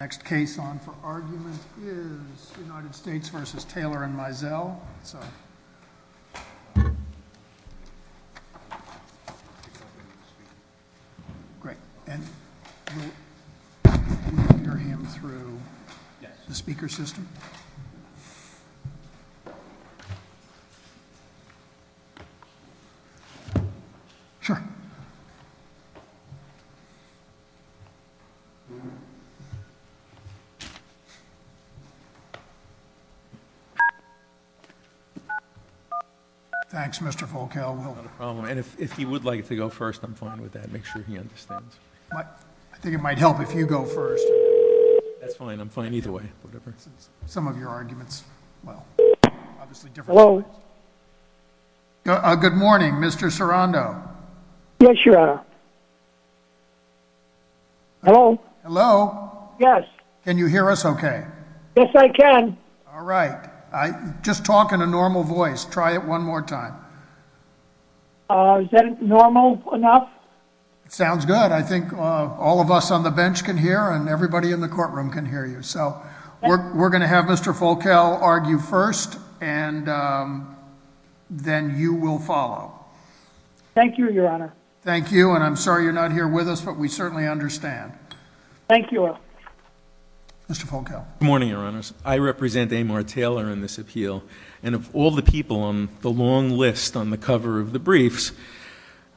Next case on for argument is U.S. v. Taylor and Mizell. Great. And we'll hear him through the speaker system. Sure. Thanks, Mr. Volkel. And if he would like to go first, I'm fine with that. Make sure he understands. I think it might help if you go first. That's fine. I'm fine either way. Some of your arguments, well, obviously different. Hello. Good morning, Mr. Sorondo. Yes, your honor. Hello. Hello. Yes. Can you hear us okay? Yes, I can. All right. Just talk in a normal voice. Try it one more time. Is that normal enough? Sounds good. I think all of us on the bench can hear and everybody in the courtroom can hear you. So we're going to have Mr. Volkel argue first, and then you will follow. Thank you, your honor. Thank you. And I'm sorry you're not here with us, but we certainly understand. Thank you. Mr. Volkel. Good morning, your honors. I represent Amar Taylor in this appeal. And of all the people on the long list on the cover of the briefs,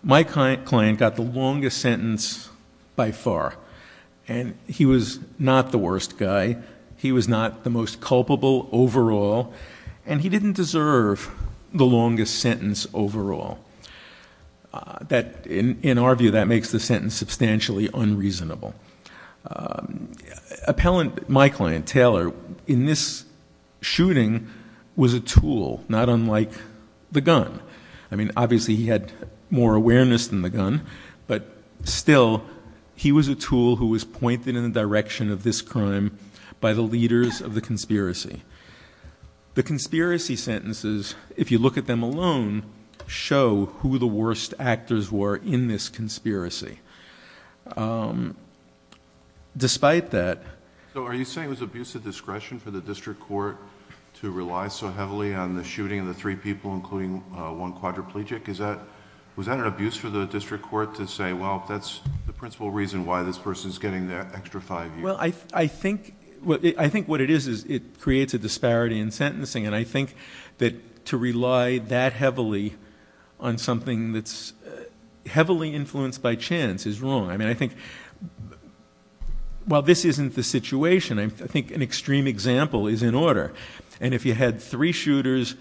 my client got the longest sentence by far. And he was not the worst guy. He was not the most culpable overall. And he didn't deserve the longest sentence overall. In our view, that makes the sentence substantially unreasonable. Appellant, my client, Taylor, in this shooting was a tool, not unlike the gun. I mean, obviously he had more awareness than the gun. But still, he was a tool who was pointed in the direction of this crime by the leaders of the conspiracy. The conspiracy sentences, if you look at them alone, show who the worst actors were in this conspiracy. Despite that. So are you saying it was abuse of discretion for the district court to rely so heavily on the shooting of the three people, including one quadriplegic? Was that an abuse for the district court to say, well, that's the principal reason why this person is getting the extra five years? Well, I think what it is is it creates a disparity in sentencing. And I think that to rely that heavily on something that's heavily influenced by chance is wrong. I mean, I think while this isn't the situation, I think an extreme example is in order. And if you had three shooters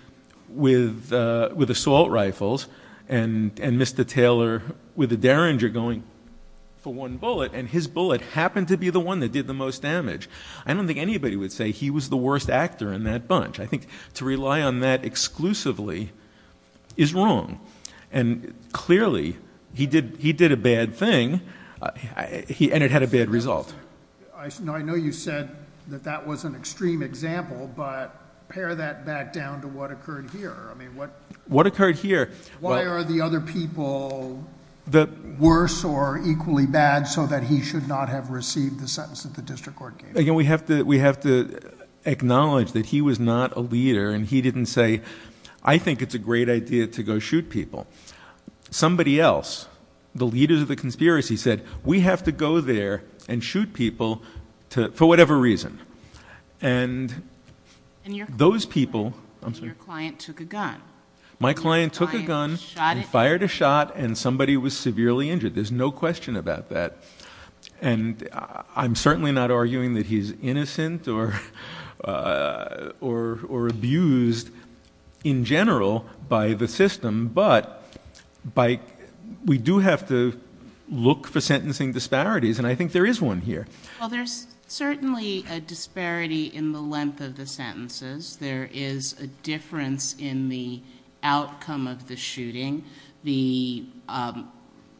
with assault rifles and Mr. Taylor with a Derringer going for one bullet, and his bullet happened to be the one that did the most damage, I don't think anybody would say he was the worst actor in that bunch. I think to rely on that exclusively is wrong. And clearly he did a bad thing, and it had a bad result. I know you said that that was an extreme example, but pare that back down to what occurred here. I mean, what occurred here? Why are the other people worse or equally bad so that he should not have received the sentence that the district court gave him? Again, we have to acknowledge that he was not a leader, and he didn't say, I think it's a great idea to go shoot people. Somebody else, the leaders of the conspiracy, said, we have to go there and shoot people for whatever reason. And those people- And your client took a gun. My client took a gun and fired a shot, and somebody was severely injured. There's no question about that. And I'm certainly not arguing that he's innocent or abused in general by the system. But we do have to look for sentencing disparities, and I think there is one here. Well, there's certainly a disparity in the length of the sentences. There is a difference in the outcome of the shooting. The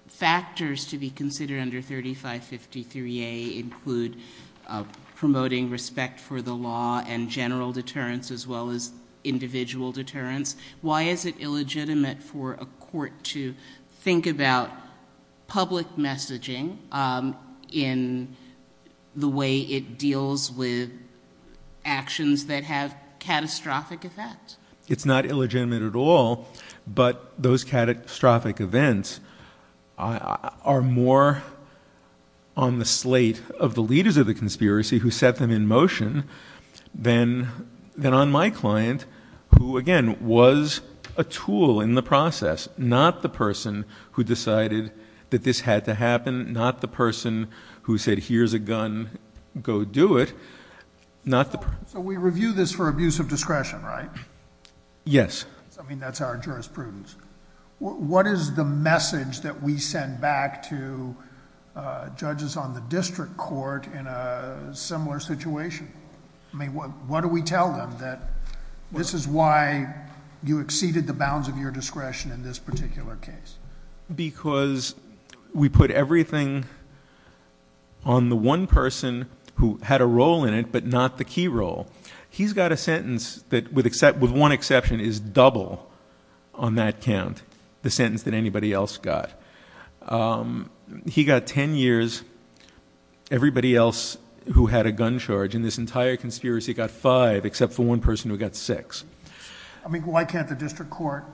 factors to be considered under 3553A include promoting respect for the law and general deterrence as well as individual deterrence. Why is it illegitimate for a court to think about public messaging in the way it deals with actions that have catastrophic effects? It's not illegitimate at all, but those catastrophic events are more on the slate of the leaders of the conspiracy who set them in motion than on my client, who, again, was a tool in the process, not the person who decided that this had to happen, not the person who said, here's a gun, go do it. So we review this for abuse of discretion, right? Yes. I mean, that's our jurisprudence. What is the message that we send back to judges on the district court in a similar situation? I mean, what do we tell them that this is why you exceeded the bounds of your discretion in this particular case? Because we put everything on the one person who had a role in it, but not the key role. He's got a sentence that, with one exception, is double on that count, the sentence that anybody else got. He got 10 years, everybody else who had a gun charge in this entire conspiracy got five, except for one person who got six. I mean, why can't the district court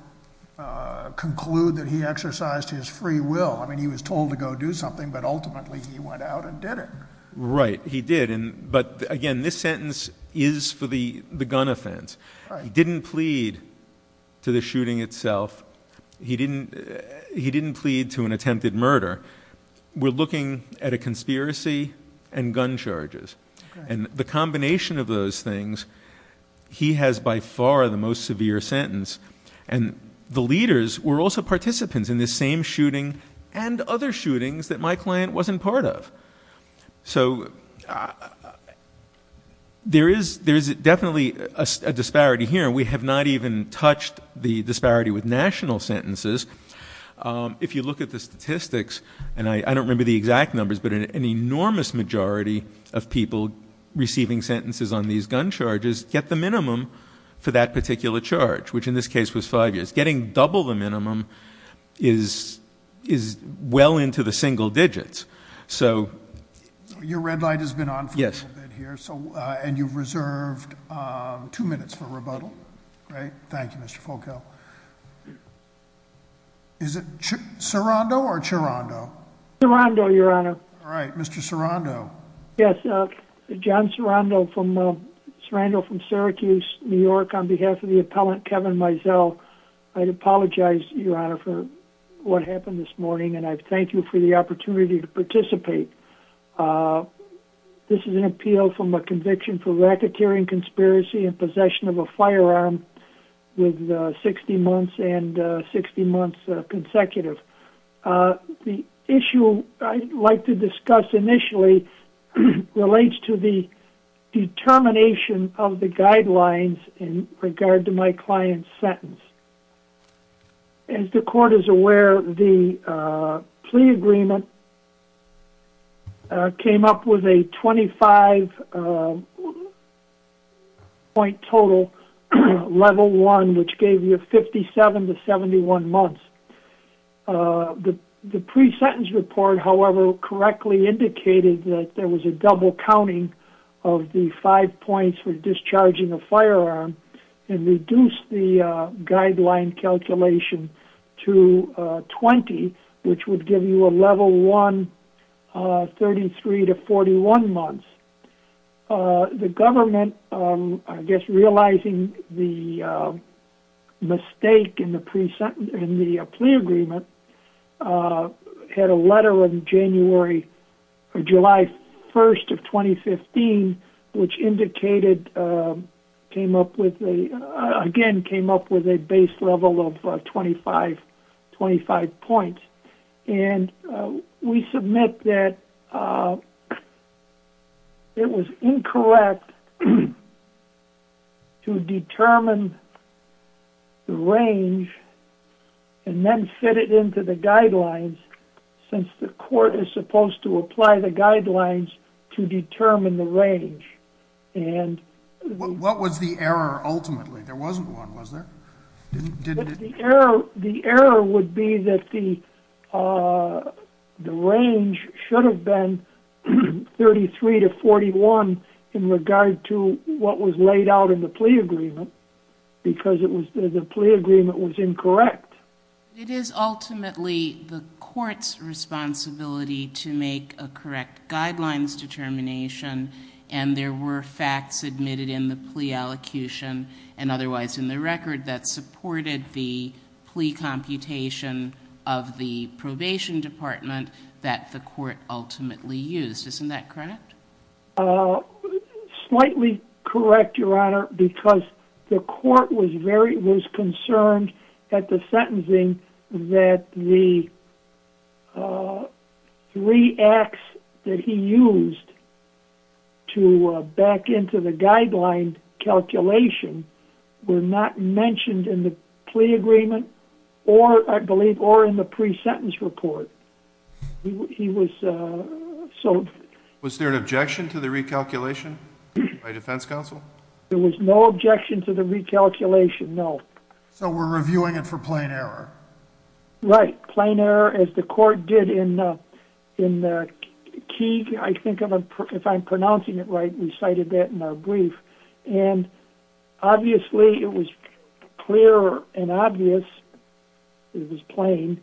conclude that he exercised his free will? I mean, he was told to go do something, but ultimately he went out and did it. Right, he did. But, again, this sentence is for the gun offense. He didn't plead to the shooting itself. He didn't plead to an attempted murder. We're looking at a conspiracy and gun charges. And the combination of those things, he has by far the most severe sentence. And the leaders were also participants in this same shooting and other shootings that my client wasn't part of. So there is definitely a disparity here. We have not even touched the disparity with national sentences. If you look at the statistics, and I don't remember the exact numbers, but an enormous majority of people receiving sentences on these gun charges get the minimum for that particular charge, which in this case was five years. Getting double the minimum is well into the single digits. Your red light has been on for a little bit here, and you've reserved two minutes for rebuttal. Great, thank you, Mr. Foucault. Is it Sirondo or Chirondo? Sirondo, Your Honor. All right, Mr. Sirondo. Yes, John Sirondo from Syracuse, New York, on behalf of the appellant Kevin Mizell. I'd apologize, Your Honor, for what happened this morning, and I thank you for the opportunity to participate. This is an appeal from a conviction for racketeering conspiracy and possession of a firearm with 60 months and 60 months consecutive. The issue I'd like to discuss initially relates to the determination of the guidelines in regard to my client's sentence. As the court is aware, the plea agreement came up with a 25-point total, level one, which gave you 57 to 71 months. The pre-sentence report, however, correctly indicated that there was a double counting of the five points for discharging a firearm and reduced the guideline calculation to 20, which would give you a level one, 33 to 41 months. The government, I guess realizing the mistake in the plea agreement, had a letter on July 1st of 2015, which again came up with a base level of 25 points. We submit that it was incorrect to determine the range and then fit it into the guidelines, since the court is supposed to apply the guidelines to determine the range. What was the error ultimately? There wasn't one, was there? The error would be that the range should have been 33 to 41 in regard to what was laid out in the plea agreement, because the plea agreement was incorrect. It is ultimately the court's responsibility to make a correct guidelines determination, and there were facts admitted in the plea allocution and otherwise in the record that supported the plea computation of the probation department that the court ultimately used. Isn't that correct? Slightly correct, Your Honor, because the court was concerned at the sentencing that the three acts that he used to back into the guideline calculation were not mentioned in the plea agreement or in the pre-sentence report. Was there an objection to the recalculation by defense counsel? There was no objection to the recalculation, no. So we're reviewing it for plain error? Right, plain error as the court did in the key, if I'm pronouncing it right, we cited that in our brief. Obviously it was clear and obvious, it was plain,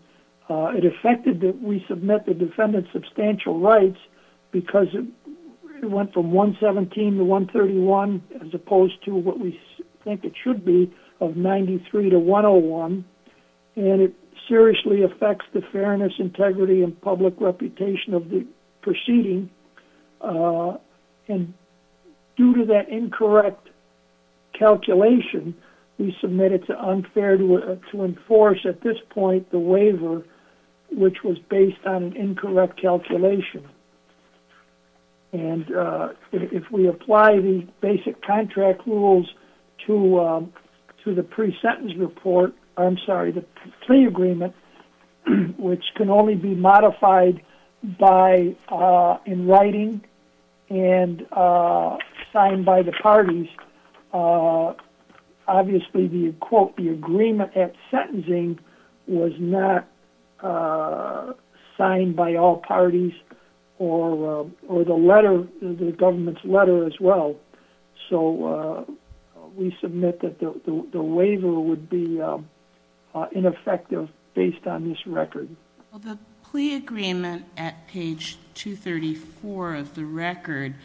it affected that we submit the defendant's substantial rights because it went from 117 to 131 as opposed to what we think it should be of 93 to 101, and it seriously affects the fairness, integrity, and public reputation of the proceeding. And due to that incorrect calculation, we submitted to unfair to enforce at this point the waiver, which was based on an incorrect calculation. And if we apply the basic contract rules to the pre-sentence report, I'm sorry, the plea agreement, which can only be modified in writing and signed by the parties, obviously the quote, the agreement at sentencing was not signed by all parties or the letter, the government's letter as well. So we submit that the waiver would be ineffective based on this record. The plea agreement at page 234 of the record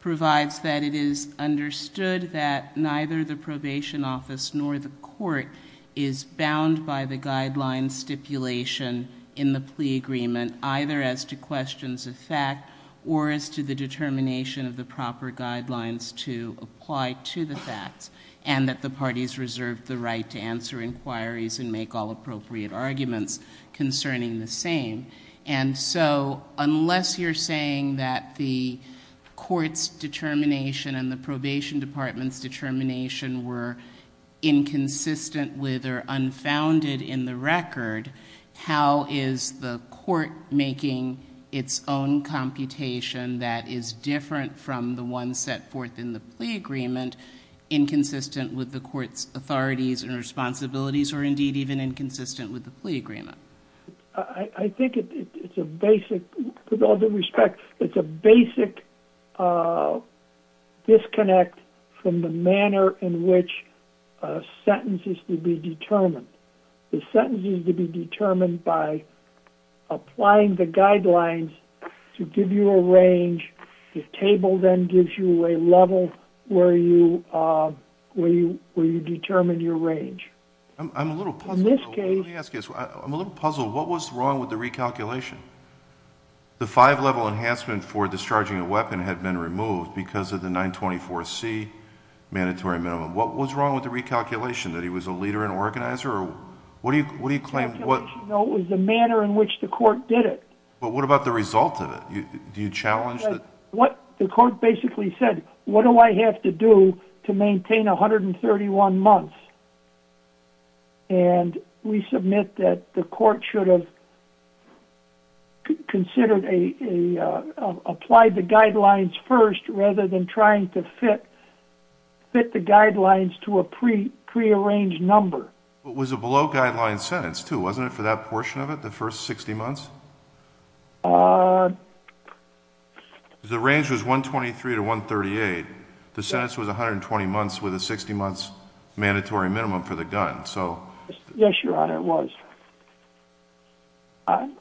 provides that it is understood that neither the probation office nor the court is bound by the guideline stipulation in the plea agreement, either as to questions of fact or as to the determination of the proper guidelines to apply to the facts, and that the parties reserve the right to answer inquiries and make all appropriate arguments concerning the same. And so unless you're saying that the court's determination and the probation department's determination were inconsistent with or unfounded in the record, how is the court making its own computation that is different from the one set forth in the plea agreement inconsistent with the court's authorities and responsibilities or indeed even inconsistent with the plea agreement? I think it's a basic, with all due respect, it's a basic disconnect from the manner in which sentences to be determined. The sentence is to be determined by applying the guidelines to give you a range. The table then gives you a level where you determine your range. I'm a little puzzled. Let me ask you this. I'm a little puzzled. What was wrong with the recalculation? The five-level enhancement for discharging a weapon had been removed because of the 924C mandatory minimum. What was wrong with the recalculation, that he was a leader and organizer? What do you claim? No, it was the manner in which the court did it. But what about the result of it? Do you challenge that? The court basically said, what do I have to do to maintain 131 months? And we submit that the court should have considered, applied the guidelines first rather than trying to fit the guidelines to a prearranged number. It was a below guideline sentence, too, wasn't it, for that portion of it, the first 60 months? The range was 123 to 138. The sentence was 120 months with a 60-months mandatory minimum for the gun. Yes, Your Honor, it was.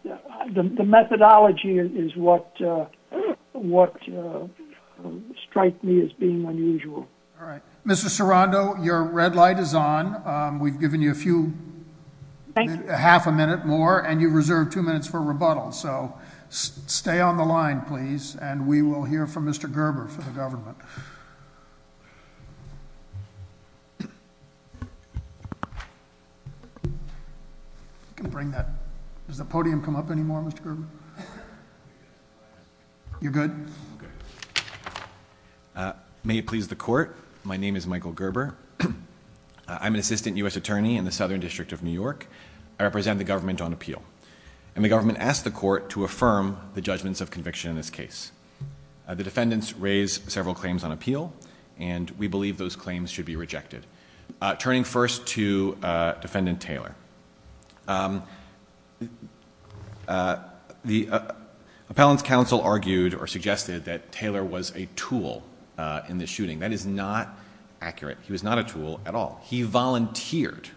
The methodology is what striked me as being unusual. All right. Mr. Sirondo, your red light is on. We've given you a few, half a minute more. And you've reserved two minutes for rebuttal. So stay on the line, please. And we will hear from Mr. Gerber for the government. Does the podium come up anymore, Mr. Gerber? You're good? May it please the court, my name is Michael Gerber. I'm an assistant U.S. attorney in the Southern District of New York. I represent the government on appeal. And the government asked the court to affirm the judgments of conviction in this case. The defendants raised several claims on appeal, and we believe those claims should be rejected. Turning first to Defendant Taylor, the Appellant's Counsel argued or suggested that Taylor was a tool in the shooting. That is not accurate. He was not a tool at all. He volunteered.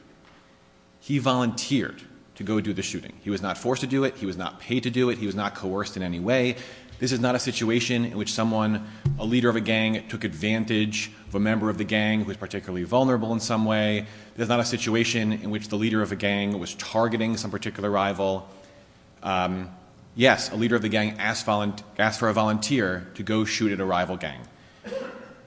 He volunteered to go do the shooting. He was not forced to do it. He was not paid to do it. He was not coerced in any way. This is not a situation in which someone, a leader of a gang, took advantage of a member of the gang who was particularly vulnerable in some way. This is not a situation in which the leader of a gang was targeting some particular rival. Yes, a leader of the gang asked for a volunteer to go shoot at a rival gang.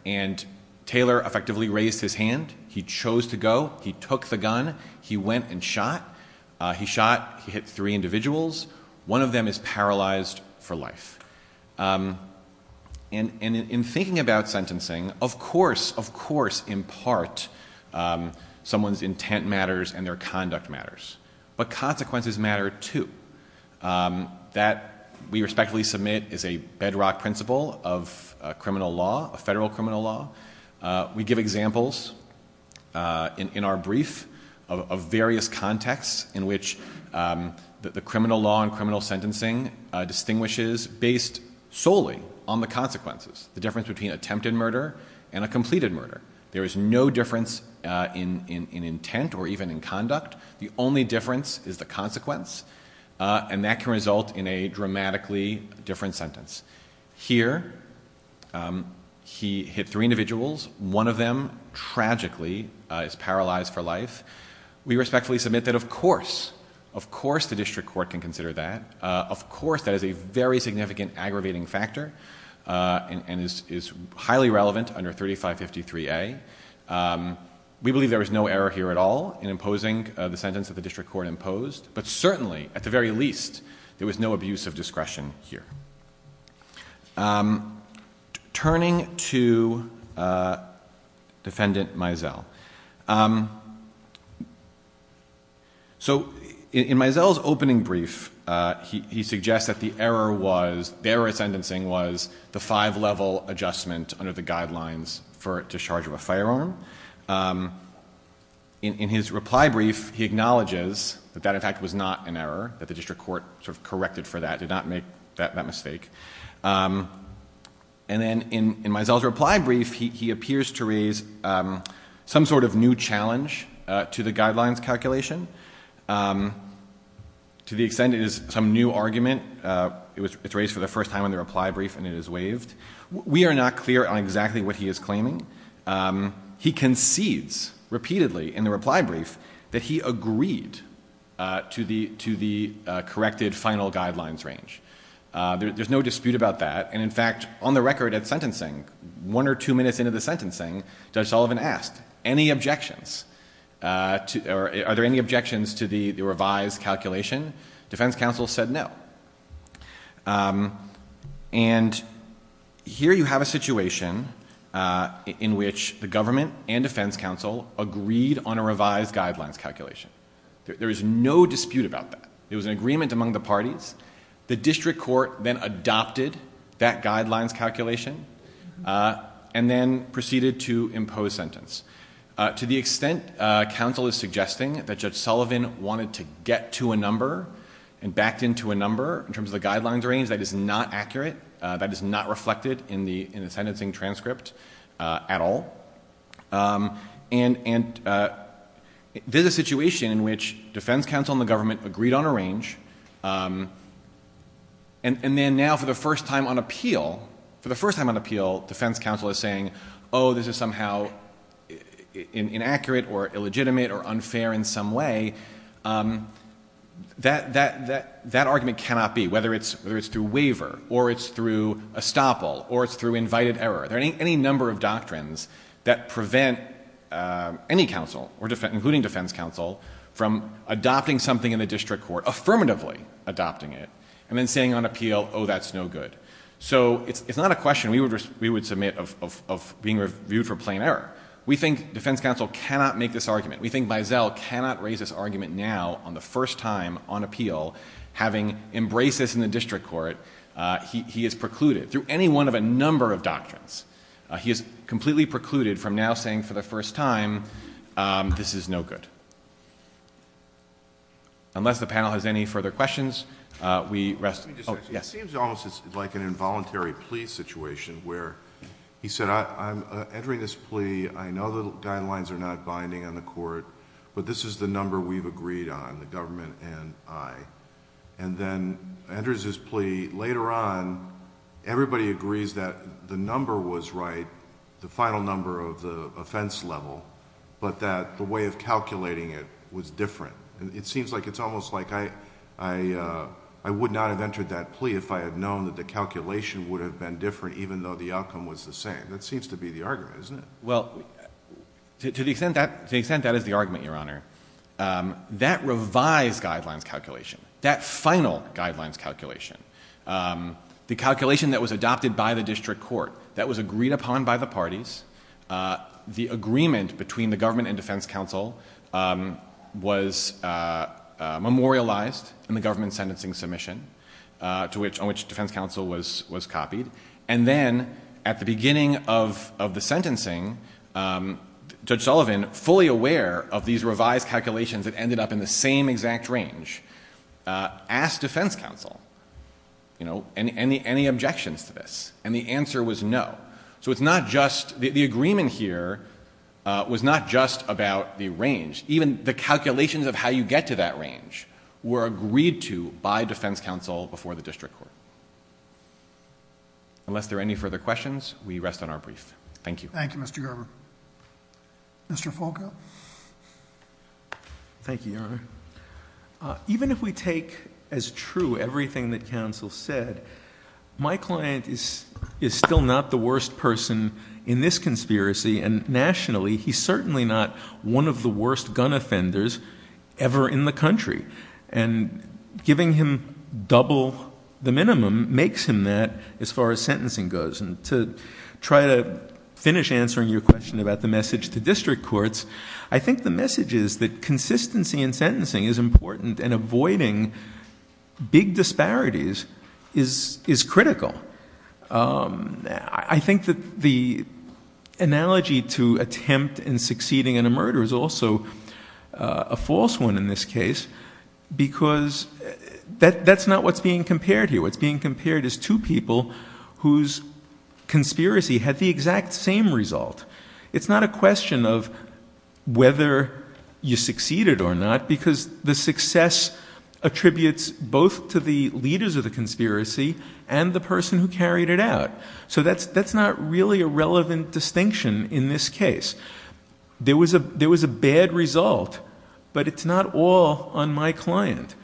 And Taylor effectively raised his hand. He chose to go. He took the gun. He went and shot. He shot. He hit three individuals. One of them is paralyzed for life. And in thinking about sentencing, of course, of course, in part, someone's intent matters and their conduct matters. But consequences matter, too. That, we respectfully submit, is a bedrock principle of criminal law, federal criminal law. We give examples in our brief of various contexts in which the criminal law and criminal sentencing distinguishes based solely on the consequences, the difference between attempted murder and a completed murder. There is no difference in intent or even in conduct. The only difference is the consequence, and that can result in a dramatically different sentence. Here, he hit three individuals. One of them, tragically, is paralyzed for life. We respectfully submit that, of course, of course the district court can consider that. Of course that is a very significant aggravating factor and is highly relevant under 3553A. We believe there is no error here at all in imposing the sentence that the district court imposed. But certainly, at the very least, there was no abuse of discretion here. Turning to Defendant Mizell. So in Mizell's opening brief, he suggests that the error was, the error of sentencing was the five-level adjustment under the guidelines for discharge of a firearm. In his reply brief, he acknowledges that that, in fact, was not an error, that the district court corrected for that, did not make that mistake. And then in Mizell's reply brief, he appears to raise some sort of new challenge to the guidelines calculation. To the extent it is some new argument, it's raised for the first time in the reply brief and it is waived. We are not clear on exactly what he is claiming. He concedes repeatedly in the reply brief that he agreed to the corrected final guidelines range. There is no dispute about that. And in fact, on the record at sentencing, one or two minutes into the sentencing, Judge Sullivan asked, are there any objections to the revised calculation? Defense counsel said no. And here you have a situation in which the government and defense counsel agreed on a revised guidelines calculation. There is no dispute about that. It was an agreement among the parties. The district court then adopted that guidelines calculation and then proceeded to impose sentence. To the extent counsel is suggesting that Judge Sullivan wanted to get to a number and backed into a number in terms of the guidelines range, that is not accurate. That is not reflected in the sentencing transcript at all. And this is a situation in which defense counsel and the government agreed on a range. And then now for the first time on appeal, for the first time on appeal, defense counsel is saying, oh, this is somehow inaccurate or illegitimate or unfair in some way. That argument cannot be, whether it's through waiver or it's through estoppel or it's through invited error. There are any number of doctrines that prevent any counsel, including defense counsel, from adopting something in the district court, affirmatively adopting it, and then saying on appeal, oh, that's no good. So it's not a question we would submit of being reviewed for plain error. We think defense counsel cannot make this argument. We think Biesel cannot raise this argument now on the first time on appeal, having embraced this in the district court. He has precluded, through any one of a number of doctrines, he has completely precluded from now saying for the first time, this is no good. Unless the panel has any further questions, we rest. It seems almost like an involuntary plea situation where he said, I'm entering this plea. I know the guidelines are not binding on the court, but this is the number we've agreed on, the government and I. And then enters his plea. Later on, everybody agrees that the number was right, the final number of the offense level, but that the way of calculating it was different. It seems like it's almost like I would not have entered that plea if I had known that the calculation would have been different, even though the outcome was the same. That seems to be the argument, isn't it? Well, to the extent that is the argument, Your Honor, that revised guidelines calculation, that final guidelines calculation, the calculation that was adopted by the district court, that was agreed upon by the parties. The agreement between the government and defense counsel was memorialized in the government sentencing submission, on which defense counsel was copied. And then at the beginning of the sentencing, Judge Sullivan, fully aware of these revised calculations that ended up in the same exact range, asked defense counsel any objections to this. And the answer was no. So it's not just, the agreement here was not just about the range. Even the calculations of how you get to that range were agreed to by defense counsel before the district court. Unless there are any further questions, we rest on our brief. Thank you. Thank you, Mr. Gerber. Thank you, Your Honor. Even if we take as true everything that counsel said, my client is still not the worst person in this conspiracy. And nationally, he's certainly not one of the worst gun offenders ever in the country. And giving him double the minimum makes him that as far as sentencing goes. And to try to finish answering your question about the message to district courts, I think the message is that consistency in sentencing is important, and avoiding big disparities is critical. I think that the analogy to attempt and succeeding in a murder is also a false one in this case, because that's not what's being compared here. What's being compared is two people whose conspiracy had the exact same result. It's not a question of whether you succeeded or not, because the success attributes both to the leaders of the conspiracy and the person who carried it out. So that's not really a relevant distinction in this case. There was a bad result, but it's not all on my client.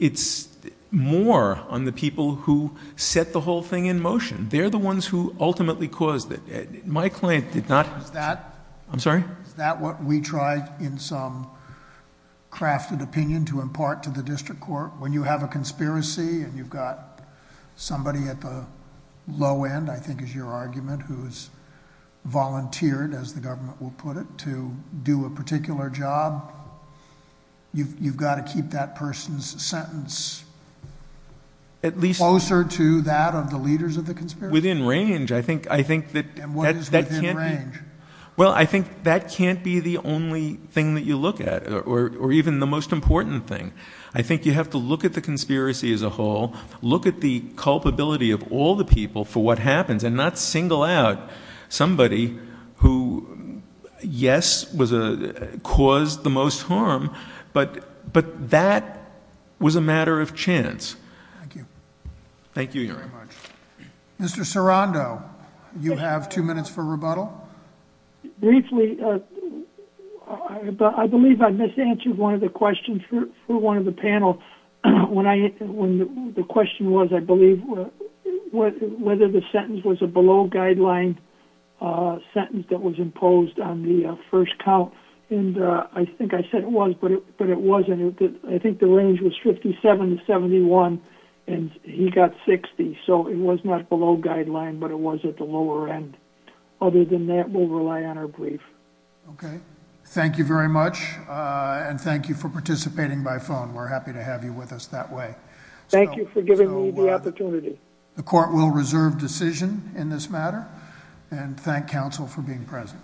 It's more on the people who set the whole thing in motion. They're the ones who ultimately caused it. My client did not... I'm sorry? Is that what we try in some crafted opinion to impart to the district court? When you have a conspiracy and you've got somebody at the low end, I think is your argument, who's volunteered, as the government will put it, to do a particular job, you've got to keep that person's sentence closer to that of the leaders of the conspiracy? Within range. And what is within range? Well, I think that can't be the only thing that you look at, or even the most important thing. I think you have to look at the conspiracy as a whole, look at the culpability of all the people for what happens, and not single out somebody who, yes, caused the most harm, but that was a matter of chance. Thank you. Thank you, Your Honor. Thank you very much. Mr. Sarando, you have two minutes for rebuttal? Briefly, I believe I misanswered one of the questions for one of the panel. The question was, I believe, whether the sentence was a below-guideline sentence that was imposed on the first count, and I think I said it was, but it wasn't. I think the range was 57 to 71, and he got 60, so it was not below-guideline, but it was at the lower end. Other than that, we'll rely on our brief. Okay. Thank you very much, and thank you for participating by phone. We're happy to have you with us that way. Thank you for giving me the opportunity. The court will reserve decision in this matter, and thank counsel for being present.